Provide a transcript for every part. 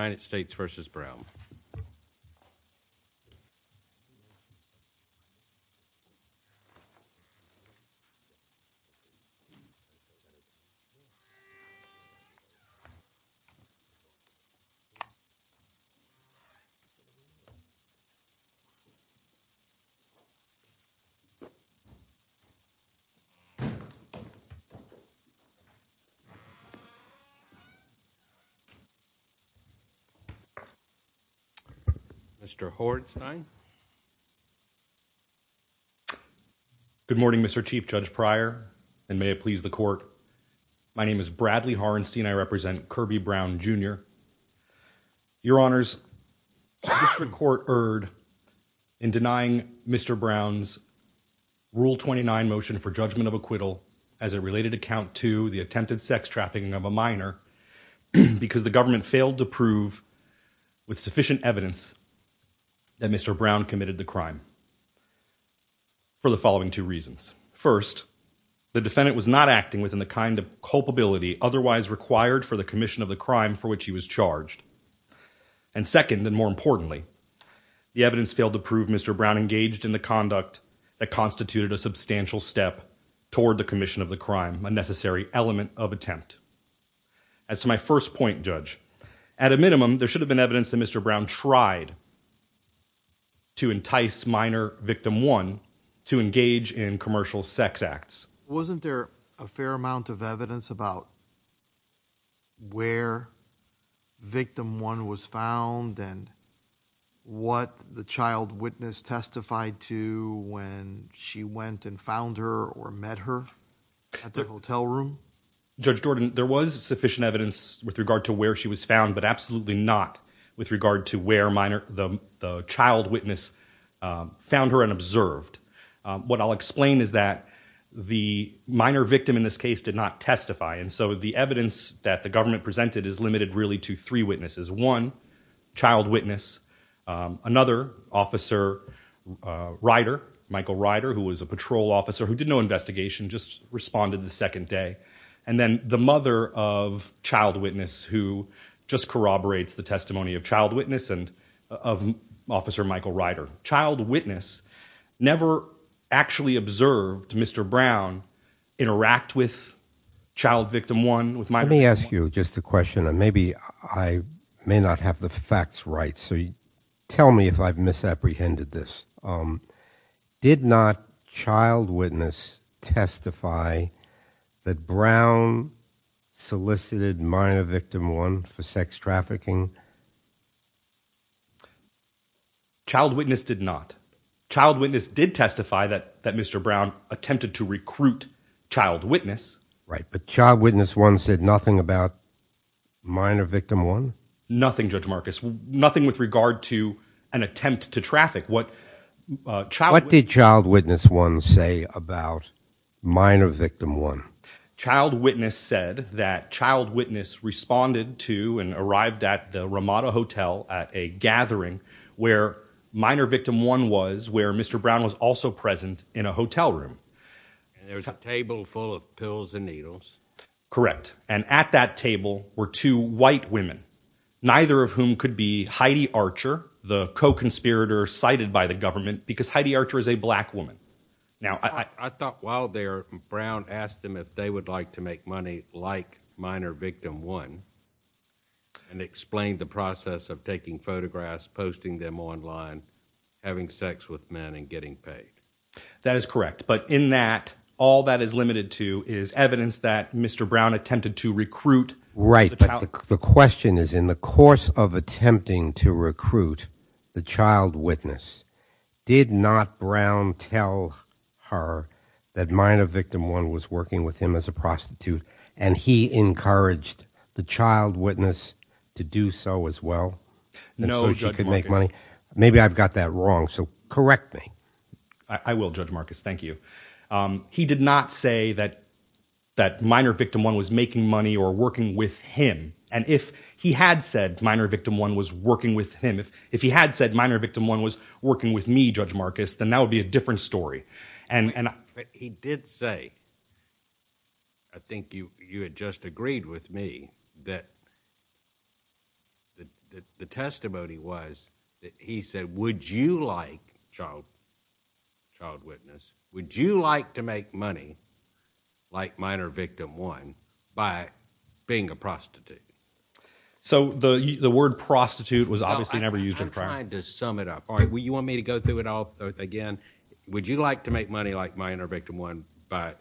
United States v. Brown. Mr. Hornstein. Good morning, Mr. Chief Judge Pryor, and may it please the Court. My name is Bradley Hornstein. I represent Kerby Brown, Jr. Your Honors, the district court erred in denying Mr. Brown's Rule 29 motion for judgment of acquittal as a related account to the attempted sex trafficking of a minor because the government failed to prove with sufficient evidence that Mr. Brown committed the crime for the following two reasons. First, the defendant was not acting within the kind of culpability otherwise required for the commission of the crime for which he was charged. And second, and more importantly, the evidence failed to prove Mr. Brown engaged in the conduct that constituted a substantial step toward the commission of the crime, a necessary element of attempt. As to my first point, Judge, at a minimum, there should have been evidence that Mr. Brown tried to entice minor Victim 1 to engage in commercial sex acts. Wasn't there a fair amount of evidence about where Victim 1 was found and what the child witness testified to when she went and found her or met her at the hotel room? Judge Jordan, there was sufficient evidence with regard to where she was found, but absolutely not with regard to where the child witness found her and observed. What I'll explain is that the minor victim in this case did not testify, and so the evidence that the government presented is limited really to three witnesses. One, child witness. Another, Officer Ryder, Michael Ryder, who was a patrol officer who did no investigation, just responded the second day. And then the mother of child witness who just corroborates the testimony of child witness and of Officer Michael Ryder. Child witness never actually observed Mr. Brown interact with child Victim 1. Let me ask you just a question, and maybe I may not have the facts right, so tell me if I've misapprehended this. Did not child witness testify that Brown solicited minor Victim 1 for sex trafficking? Child witness did not. Child witness did testify that Mr. Brown attempted to recruit child witness. Right, but child witness 1 said nothing about minor Victim 1? Nothing, Judge Marcus, nothing with regard to an attempt to traffic. What did child witness 1 say about minor Victim 1? Child witness said that child witness responded to and arrived at the Ramada Hotel at a gathering where minor Victim 1 was, where Mr. Brown was also present in a hotel room. There was a table full of pills and needles. Correct, and at that table were two white women, neither of whom could be Heidi Archer, the co-conspirator cited by the government, because Heidi Archer is a black woman. Now, I thought while there, Brown asked them if they would like to make money like minor Victim 1 and explained the process of taking photographs, posting them online, having sex with men, and getting paid. That is correct, but in that, all that is limited to is evidence that Mr. Brown attempted to recruit. Right, but the question is in the course of attempting to recruit the child witness, did not Brown tell her that minor Victim 1 was working with him as a prostitute and he encouraged the child witness to do so as well? No, Judge Marcus. Maybe I've got that wrong, so correct me. I will, Judge Marcus, thank you. He did not say that minor Victim 1 was making money or working with him, and if he had said minor Victim 1 was working with him, if he had said minor Victim 1 was working with me, Judge Marcus, then that would be a different story. But he did say, I think you had just agreed with me, that the testimony was that he said, would you like, child witness, would you like to make money like minor Victim 1 by being a prostitute? So the word prostitute was obviously never used in the prior. I'm trying to sum it up. All right, you want me to go through it all again? Would you like to make money like minor Victim 1 by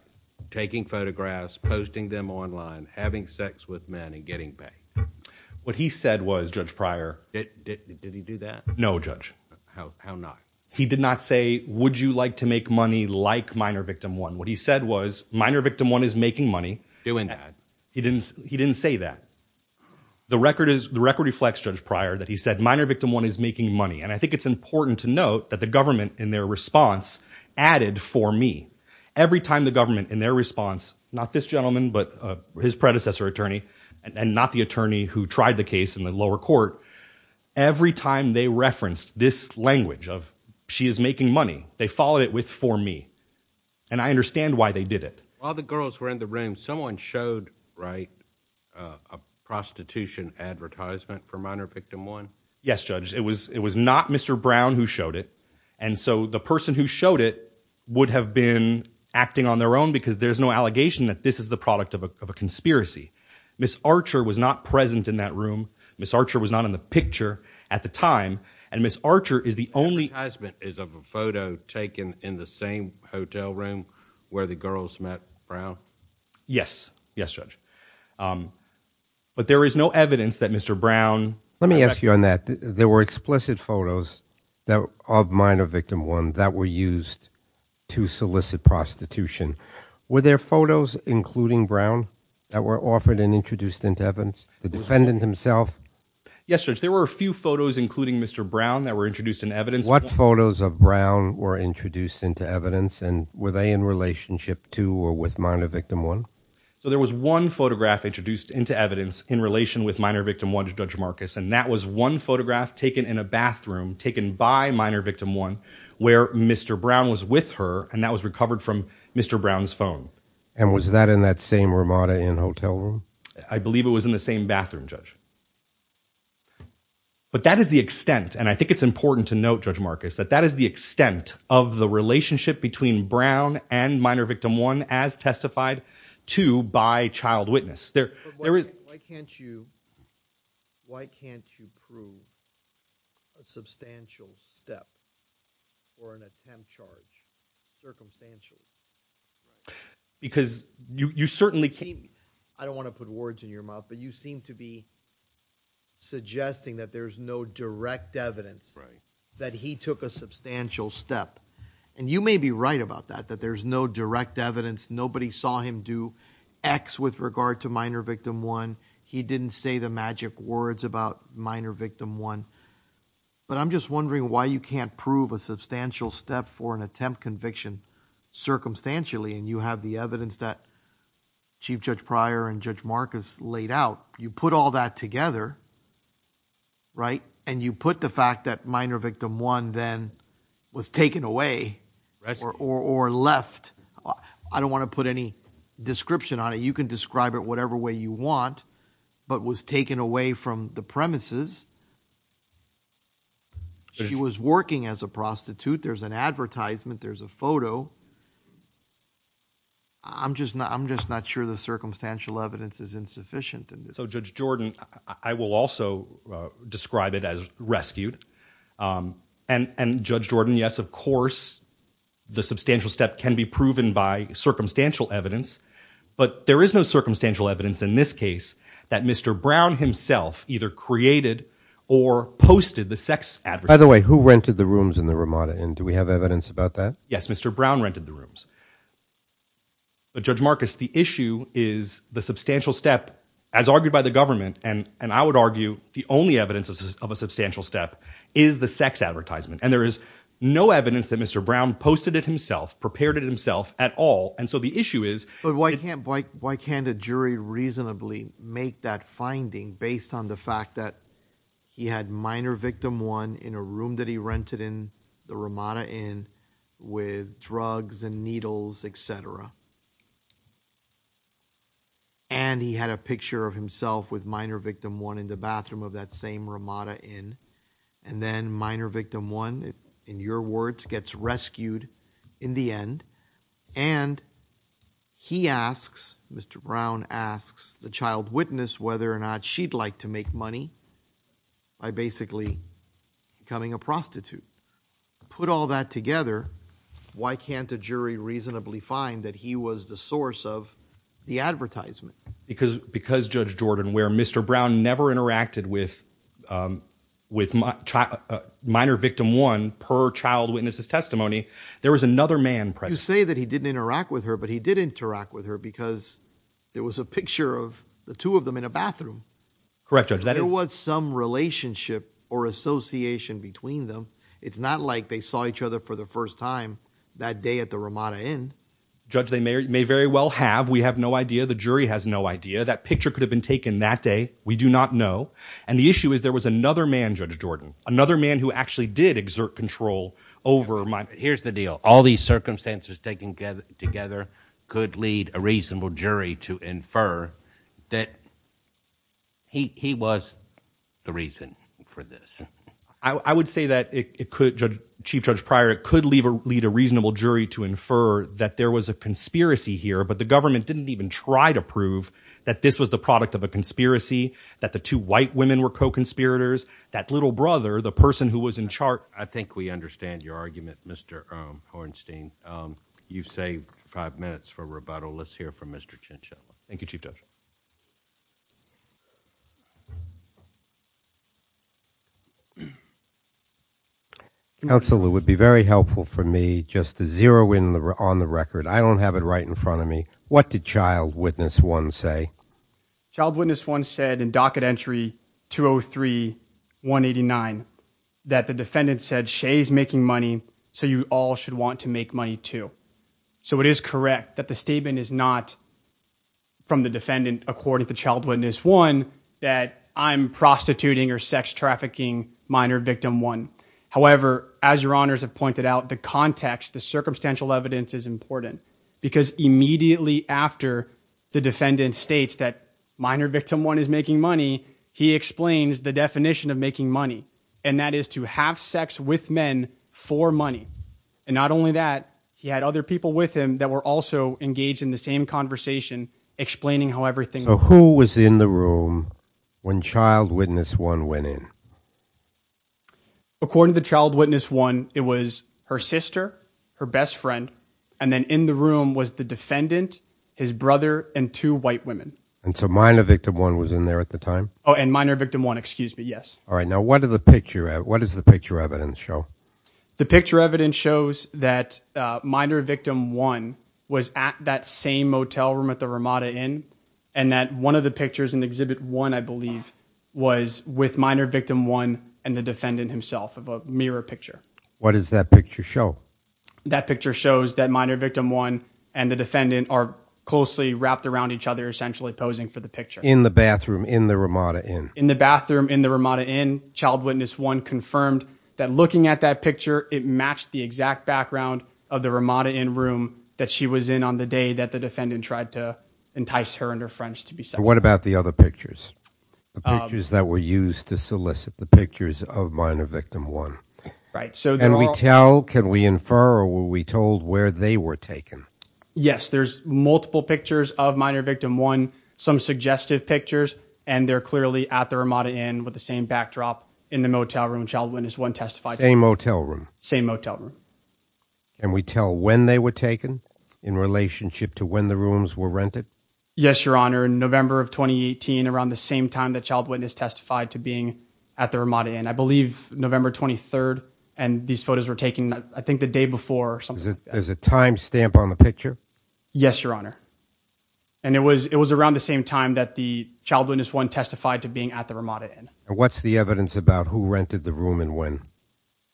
taking photographs, posting them online, having sex with men, and getting paid? What he said was, Judge Pryor. Did he do that? No, Judge. How not? He did not say, would you like to make money like minor Victim 1? What he said was, minor Victim 1 is making money. Doing that. He didn't say that. The record reflects, Judge Pryor, that he said minor Victim 1 is making money, and I think it's important to note that the government in their response added for me. Every time the government in their response, not this gentleman but his predecessor attorney, and not the attorney who tried the case in the lower court, every time they referenced this language of she is making money, they followed it with for me. And I understand why they did it. While the girls were in the room, someone showed a prostitution advertisement for minor Victim 1? Yes, Judge. It was not Mr. Brown who showed it. And so the person who showed it would have been acting on their own because there's no allegation that this is the product of a conspiracy. Ms. Archer was not present in that room. Ms. Archer was not in the picture at the time. And Ms. Archer is the only. The advertisement is of a photo taken in the same hotel room where the girls met Brown? Yes. Yes, Judge. But there is no evidence that Mr. Brown. Let me ask you on that. There were explicit photos of minor Victim 1 that were used to solicit prostitution. Were there photos, including Brown, that were offered and introduced into evidence? The defendant himself? Yes, Judge. There were a few photos, including Mr. Brown, that were introduced into evidence. What photos of Brown were introduced into evidence, and were they in relationship to or with minor Victim 1? So there was one photograph introduced into evidence in relation with minor Victim 1, Judge Marcus, and that was one photograph taken in a bathroom taken by minor Victim 1 where Mr. Brown was with her, and that was recovered from Mr. Brown's phone. And was that in that same Ramada Inn hotel room? I believe it was in the same bathroom, Judge. But that is the extent, and I think it's important to note, Judge Marcus, that that is the extent of the relationship between Brown and minor Victim 1 as testified to by child witness. But why can't you prove a substantial step or an attempt charge, circumstantial? Because you certainly can't. I don't want to put words in your mouth, but you seem to be suggesting that there's no direct evidence that he took a substantial step. And you may be right about that, that there's no direct evidence. Nobody saw him do X with regard to minor Victim 1. He didn't say the magic words about minor Victim 1. But I'm just wondering why you can't prove a substantial step for an attempt conviction circumstantially, and you have the evidence that Chief Judge Pryor and Judge Marcus laid out. You put all that together, right, and you put the fact that minor Victim 1 then was taken away or left. I don't want to put any description on it. You can describe it whatever way you want, but was taken away from the premises. She was working as a prostitute. There's an advertisement. There's a photo. I'm just not sure the circumstantial evidence is insufficient. So, Judge Jordan, I will also describe it as rescued. And, Judge Jordan, yes, of course, the substantial step can be proven by circumstantial evidence, but there is no circumstantial evidence in this case that Mr. Brown himself either created or posted the sex advertisement. By the way, who rented the rooms in the Ramada Inn? Do we have evidence about that? Yes, Mr. Brown rented the rooms. But, Judge Marcus, the issue is the substantial step, as argued by the government, and I would argue the only evidence of a substantial step is the sex advertisement, and there is no evidence that Mr. Brown posted it himself, prepared it himself at all. And so the issue is… But why can't a jury reasonably make that finding based on the fact that he had minor Victim 1 in a room that he rented in the Ramada Inn with drugs and needles, et cetera, and he had a picture of himself with minor Victim 1 in the bathroom of that same Ramada Inn, and then minor Victim 1, in your words, gets rescued in the end, and he asks, Mr. Brown asks the child witness whether or not she'd like to make money by basically becoming a prostitute. Put all that together, why can't a jury reasonably find that he was the source of the advertisement? Because, Judge Jordan, where Mr. Brown never interacted with minor Victim 1 per child witness's testimony, there was another man present. You say that he didn't interact with her, but he did interact with her because there was a picture of the two of them in a bathroom. Correct, Judge. There was some relationship or association between them. It's not like they saw each other for the first time that day at the Ramada Inn. Judge, they may very well have. We have no idea. The jury has no idea. That picture could have been taken that day. We do not know. And the issue is there was another man, Judge Jordan, another man who actually did exert control over minor Victim 1. Here's the deal. All these circumstances taken together could lead a reasonable jury to infer that he was the reason for this. I would say that, Chief Judge Pryor, it could lead a reasonable jury to infer that there was a conspiracy here, but the government didn't even try to prove that this was the product of a conspiracy, that the two white women were co-conspirators, that little brother, the person who was in charge. I think we understand your argument, Mr. Hornstein. You've saved five minutes for rebuttal. Let's hear from Mr. Chinchilla. Thank you, Chief Judge. Counsel, it would be very helpful for me just to zero in on the record. I don't have it right in front of me. What did Child Witness 1 say? Child Witness 1 said in docket entry 203-189 that the defendant said, Shay is making money, so you all should want to make money too. So it is correct that the statement is not from the defendant, according to Child Witness 1, that I'm prostituting or sex trafficking Minor Victim 1. However, as your honors have pointed out, the context, the circumstantial evidence is important because immediately after the defendant states that Minor Victim 1 is making money, he explains the definition of making money, and that is to have sex with men for money. And not only that, he had other people with him that were also engaged in the same conversation, explaining how everything was. So who was in the room when Child Witness 1 went in? According to Child Witness 1, it was her sister, her best friend, and then in the room was the defendant, his brother, and two white women. And so Minor Victim 1 was in there at the time? Oh, and Minor Victim 1, excuse me, yes. All right, now what does the picture evidence show? The picture evidence shows that Minor Victim 1 was at that same motel room at the Ramada Inn, and that one of the pictures in Exhibit 1, I believe, was with Minor Victim 1 and the defendant himself of a mirror picture. What does that picture show? That picture shows that Minor Victim 1 and the defendant are closely wrapped around each other, essentially posing for the picture. In the bathroom in the Ramada Inn? In the bathroom in the Ramada Inn. Child Witness 1 confirmed that looking at that picture, it matched the exact background of the Ramada Inn room that she was in on the day that the defendant tried to entice her and her friends to be separated. What about the other pictures, the pictures that were used to solicit, the pictures of Minor Victim 1? Can we tell, can we infer, or were we told where they were taken? Yes, there's multiple pictures of Minor Victim 1, some suggestive pictures, and they're clearly at the Ramada Inn with the same backdrop in the motel room, Child Witness 1 testified to. Same motel room? Same motel room. And we tell when they were taken, in relationship to when the rooms were rented? Yes, Your Honor. In November of 2018, around the same time that Child Witness testified to being at the Ramada Inn. I believe November 23rd, and these photos were taken, I think the day before. There's a time stamp on the picture? Yes, Your Honor. And it was around the same time that the Child Witness 1 testified to being at the Ramada Inn. And what's the evidence about who rented the room and when?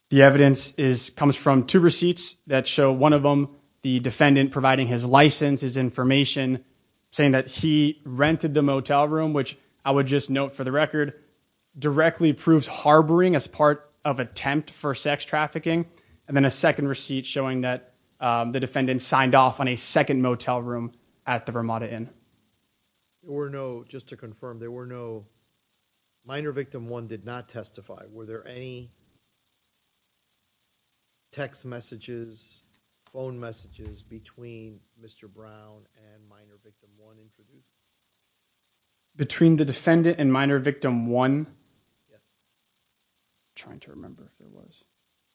The evidence comes from two receipts that show one of them, the defendant providing his license, his information, saying that he rented the motel room, which I would just note for the record, directly proves harboring as part of attempt for sex trafficking, and then a second receipt showing that the defendant signed off on a second motel room at the Ramada Inn. There were no, just to confirm, there were no, Minor Victim 1 did not testify. Were there any text messages, phone messages between Mr. Brown and Minor Victim 1 introduced? Between the defendant and Minor Victim 1? Yes. I'm trying to remember if there was.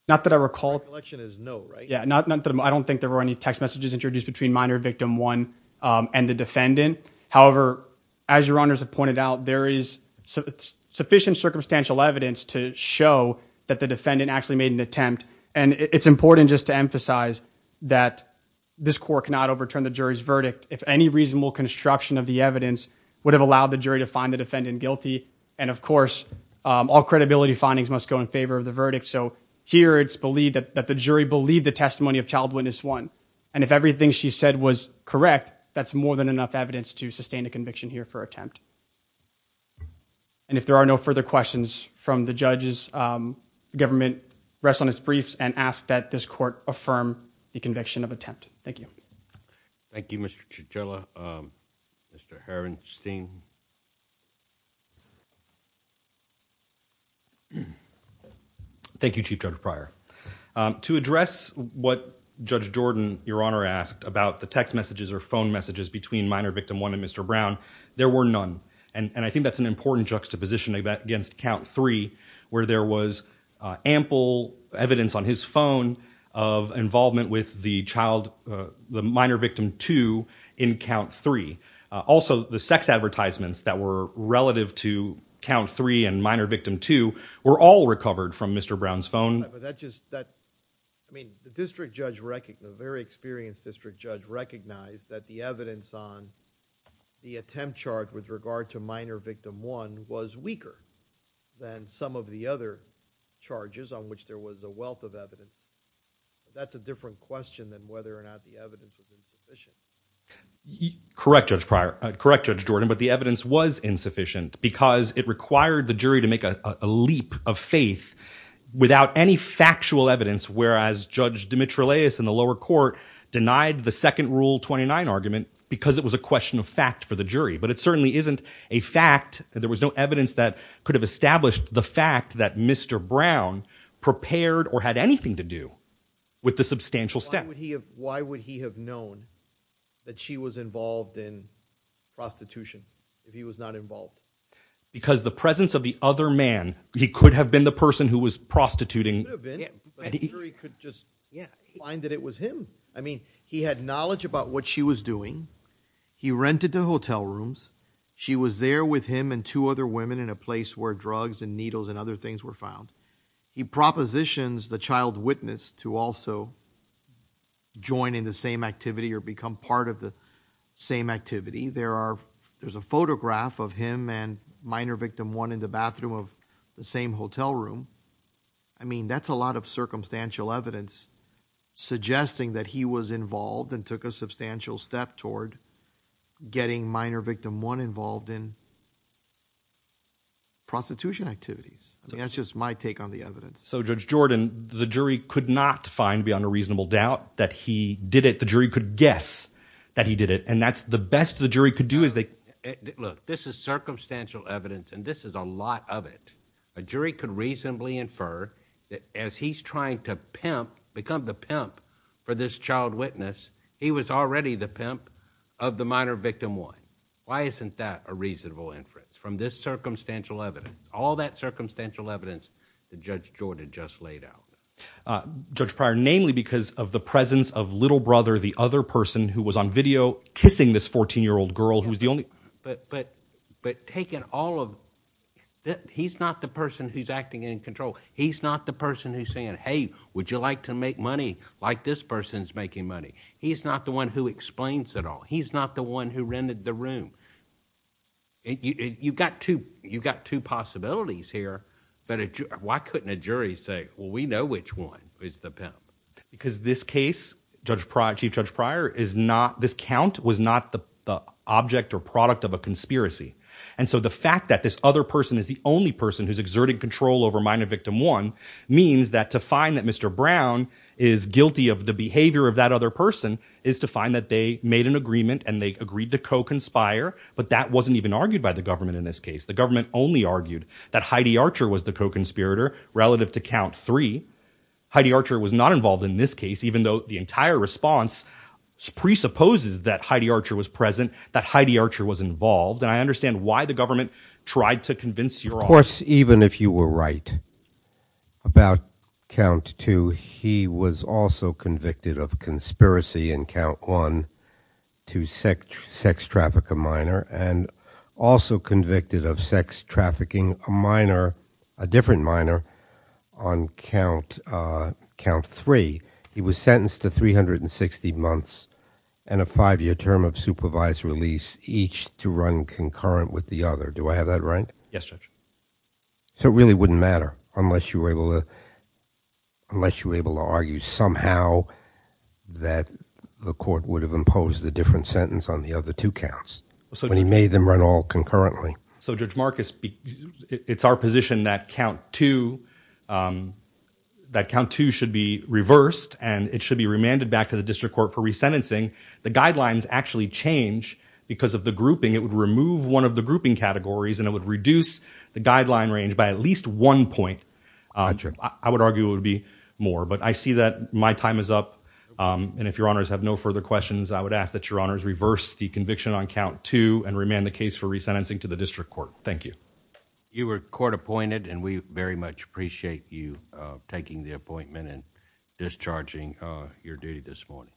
Not that I recall. The recollection is no, right? Yeah, I don't think there were any text messages introduced between Minor Victim 1 and the defendant. However, as Your Honors have pointed out, there is sufficient circumstantial evidence to show that the defendant actually made an attempt. And it's important just to emphasize that this court cannot overturn the jury's verdict if any reasonable construction of the evidence would have allowed the jury to find the defendant guilty. And of course, all credibility findings must go in favor of the verdict. So here it's believed that the jury believed the testimony of Child Witness 1. And if everything she said was correct, that's more than enough evidence to sustain a conviction here for attempt. And if there are no further questions from the judges, the government rests on its briefs and asks that this court affirm the conviction of attempt. Thank you. Thank you, Mr. Chichella. Mr. Harrenstein. Thank you, Chief Judge Pryor. To address what Judge Jordan, Your Honor, asked about the text messages or phone messages between Minor Victim 1 and Mr. Brown, there were none. And I think that's an important juxtaposition against Count 3 where there was ample evidence on his phone of involvement with the minor victim 2 in Count 3. Also, the sex advertisements that were relative to Count 3 and Minor Victim 2 were all recovered from Mr. Brown's phone. The very experienced district judge recognized that the evidence on the attempt chart with regard to Minor Victim 1 was weaker than some of the other charges on which there was a wealth of evidence. That's a different question than whether or not the evidence was insufficient. Correct, Judge Pryor. Correct, Judge Jordan, but the evidence was insufficient because it required the jury to make a leap of faith without any factual evidence, whereas Judge Dimitrileous in the lower court denied the second Rule 29 argument because it was a question of fact for the jury. But it certainly isn't a fact. There was no evidence that could have established the fact that Mr. Brown prepared or had anything to do with the substantial step. Why would he have known that she was involved in prostitution if he was not involved? Because the presence of the other man, he could have been the person who was prostituting. He could just find that it was him. I mean, he had knowledge about what she was doing. He rented the hotel rooms. She was there with him and two other women in a place where drugs and needles and other things were found. He propositions the child witness to also join in the same activity or become part of the same activity. There's a photograph of him and Minor Victim 1 in the bathroom of the same hotel room. I mean, that's a lot of circumstantial evidence suggesting that he was involved and took a substantial step toward getting Minor Victim 1 involved in prostitution activities. That's just my take on the evidence. So, Judge Jordan, the jury could not find beyond a reasonable doubt that he did it. The jury could guess that he did it. And that's the best the jury could do is they... Look, this is circumstantial evidence, and this is a lot of it. A jury could reasonably infer that as he's trying to pimp, become the pimp for this child witness, he was already the pimp of the Minor Victim 1. Why isn't that a reasonable inference from this circumstantial evidence, all that circumstantial evidence that Judge Jordan just laid out? Judge Pryor, namely because of the presence of little brother, the other person who was on video kissing this 14-year-old girl who was the only... But taking all of... He's not the person who's acting in control. He's not the person who's saying, hey, would you like to make money like this person's making money? He's not the one who explains it all. He's not the one who rented the room. You've got two possibilities here, but why couldn't a jury say, well, we know which one is the pimp? Because this case, Chief Judge Pryor, this count was not the object or product of a conspiracy. And so the fact that this other person is the only person who's exerting control over Minor Victim 1 means that to find that Mr. Brown is guilty of the behavior of that other person is to find that they made an agreement and they agreed to co-conspire, but that wasn't even argued by the government in this case. The government only argued that Heidi Archer was the co-conspirator relative to Count 3. Heidi Archer was not involved in this case, even though the entire response presupposes that Heidi Archer was present, that Heidi Archer was involved, and I understand why the government tried to convince your audience. Of course, even if you were right about Count 2, he was also convicted of conspiracy in Count 1 to sex traffic a minor and also convicted of sex trafficking a minor, a different minor, on Count 3. He was sentenced to 360 months and a five-year term of supervised release, each to run concurrent with the other. Do I have that right? Yes, Judge. So it really wouldn't matter unless you were able to argue somehow that the court would have imposed a different sentence on the other two counts when he made them run all concurrently. So, Judge Marcus, it's our position that Count 2 should be reversed, and it should be remanded back to the district court for resentencing. The guidelines actually change because of the grouping. It would remove one of the grouping categories, and it would reduce the guideline range by at least one point. I would argue it would be more, but I see that my time is up, and if Your Honors have no further questions, I would ask that Your Honors reverse the conviction on Count 2 and remand the case for resentencing to the district court. Thank you. You were court-appointed, and we very much appreciate you taking the appointment and discharging your duty this morning.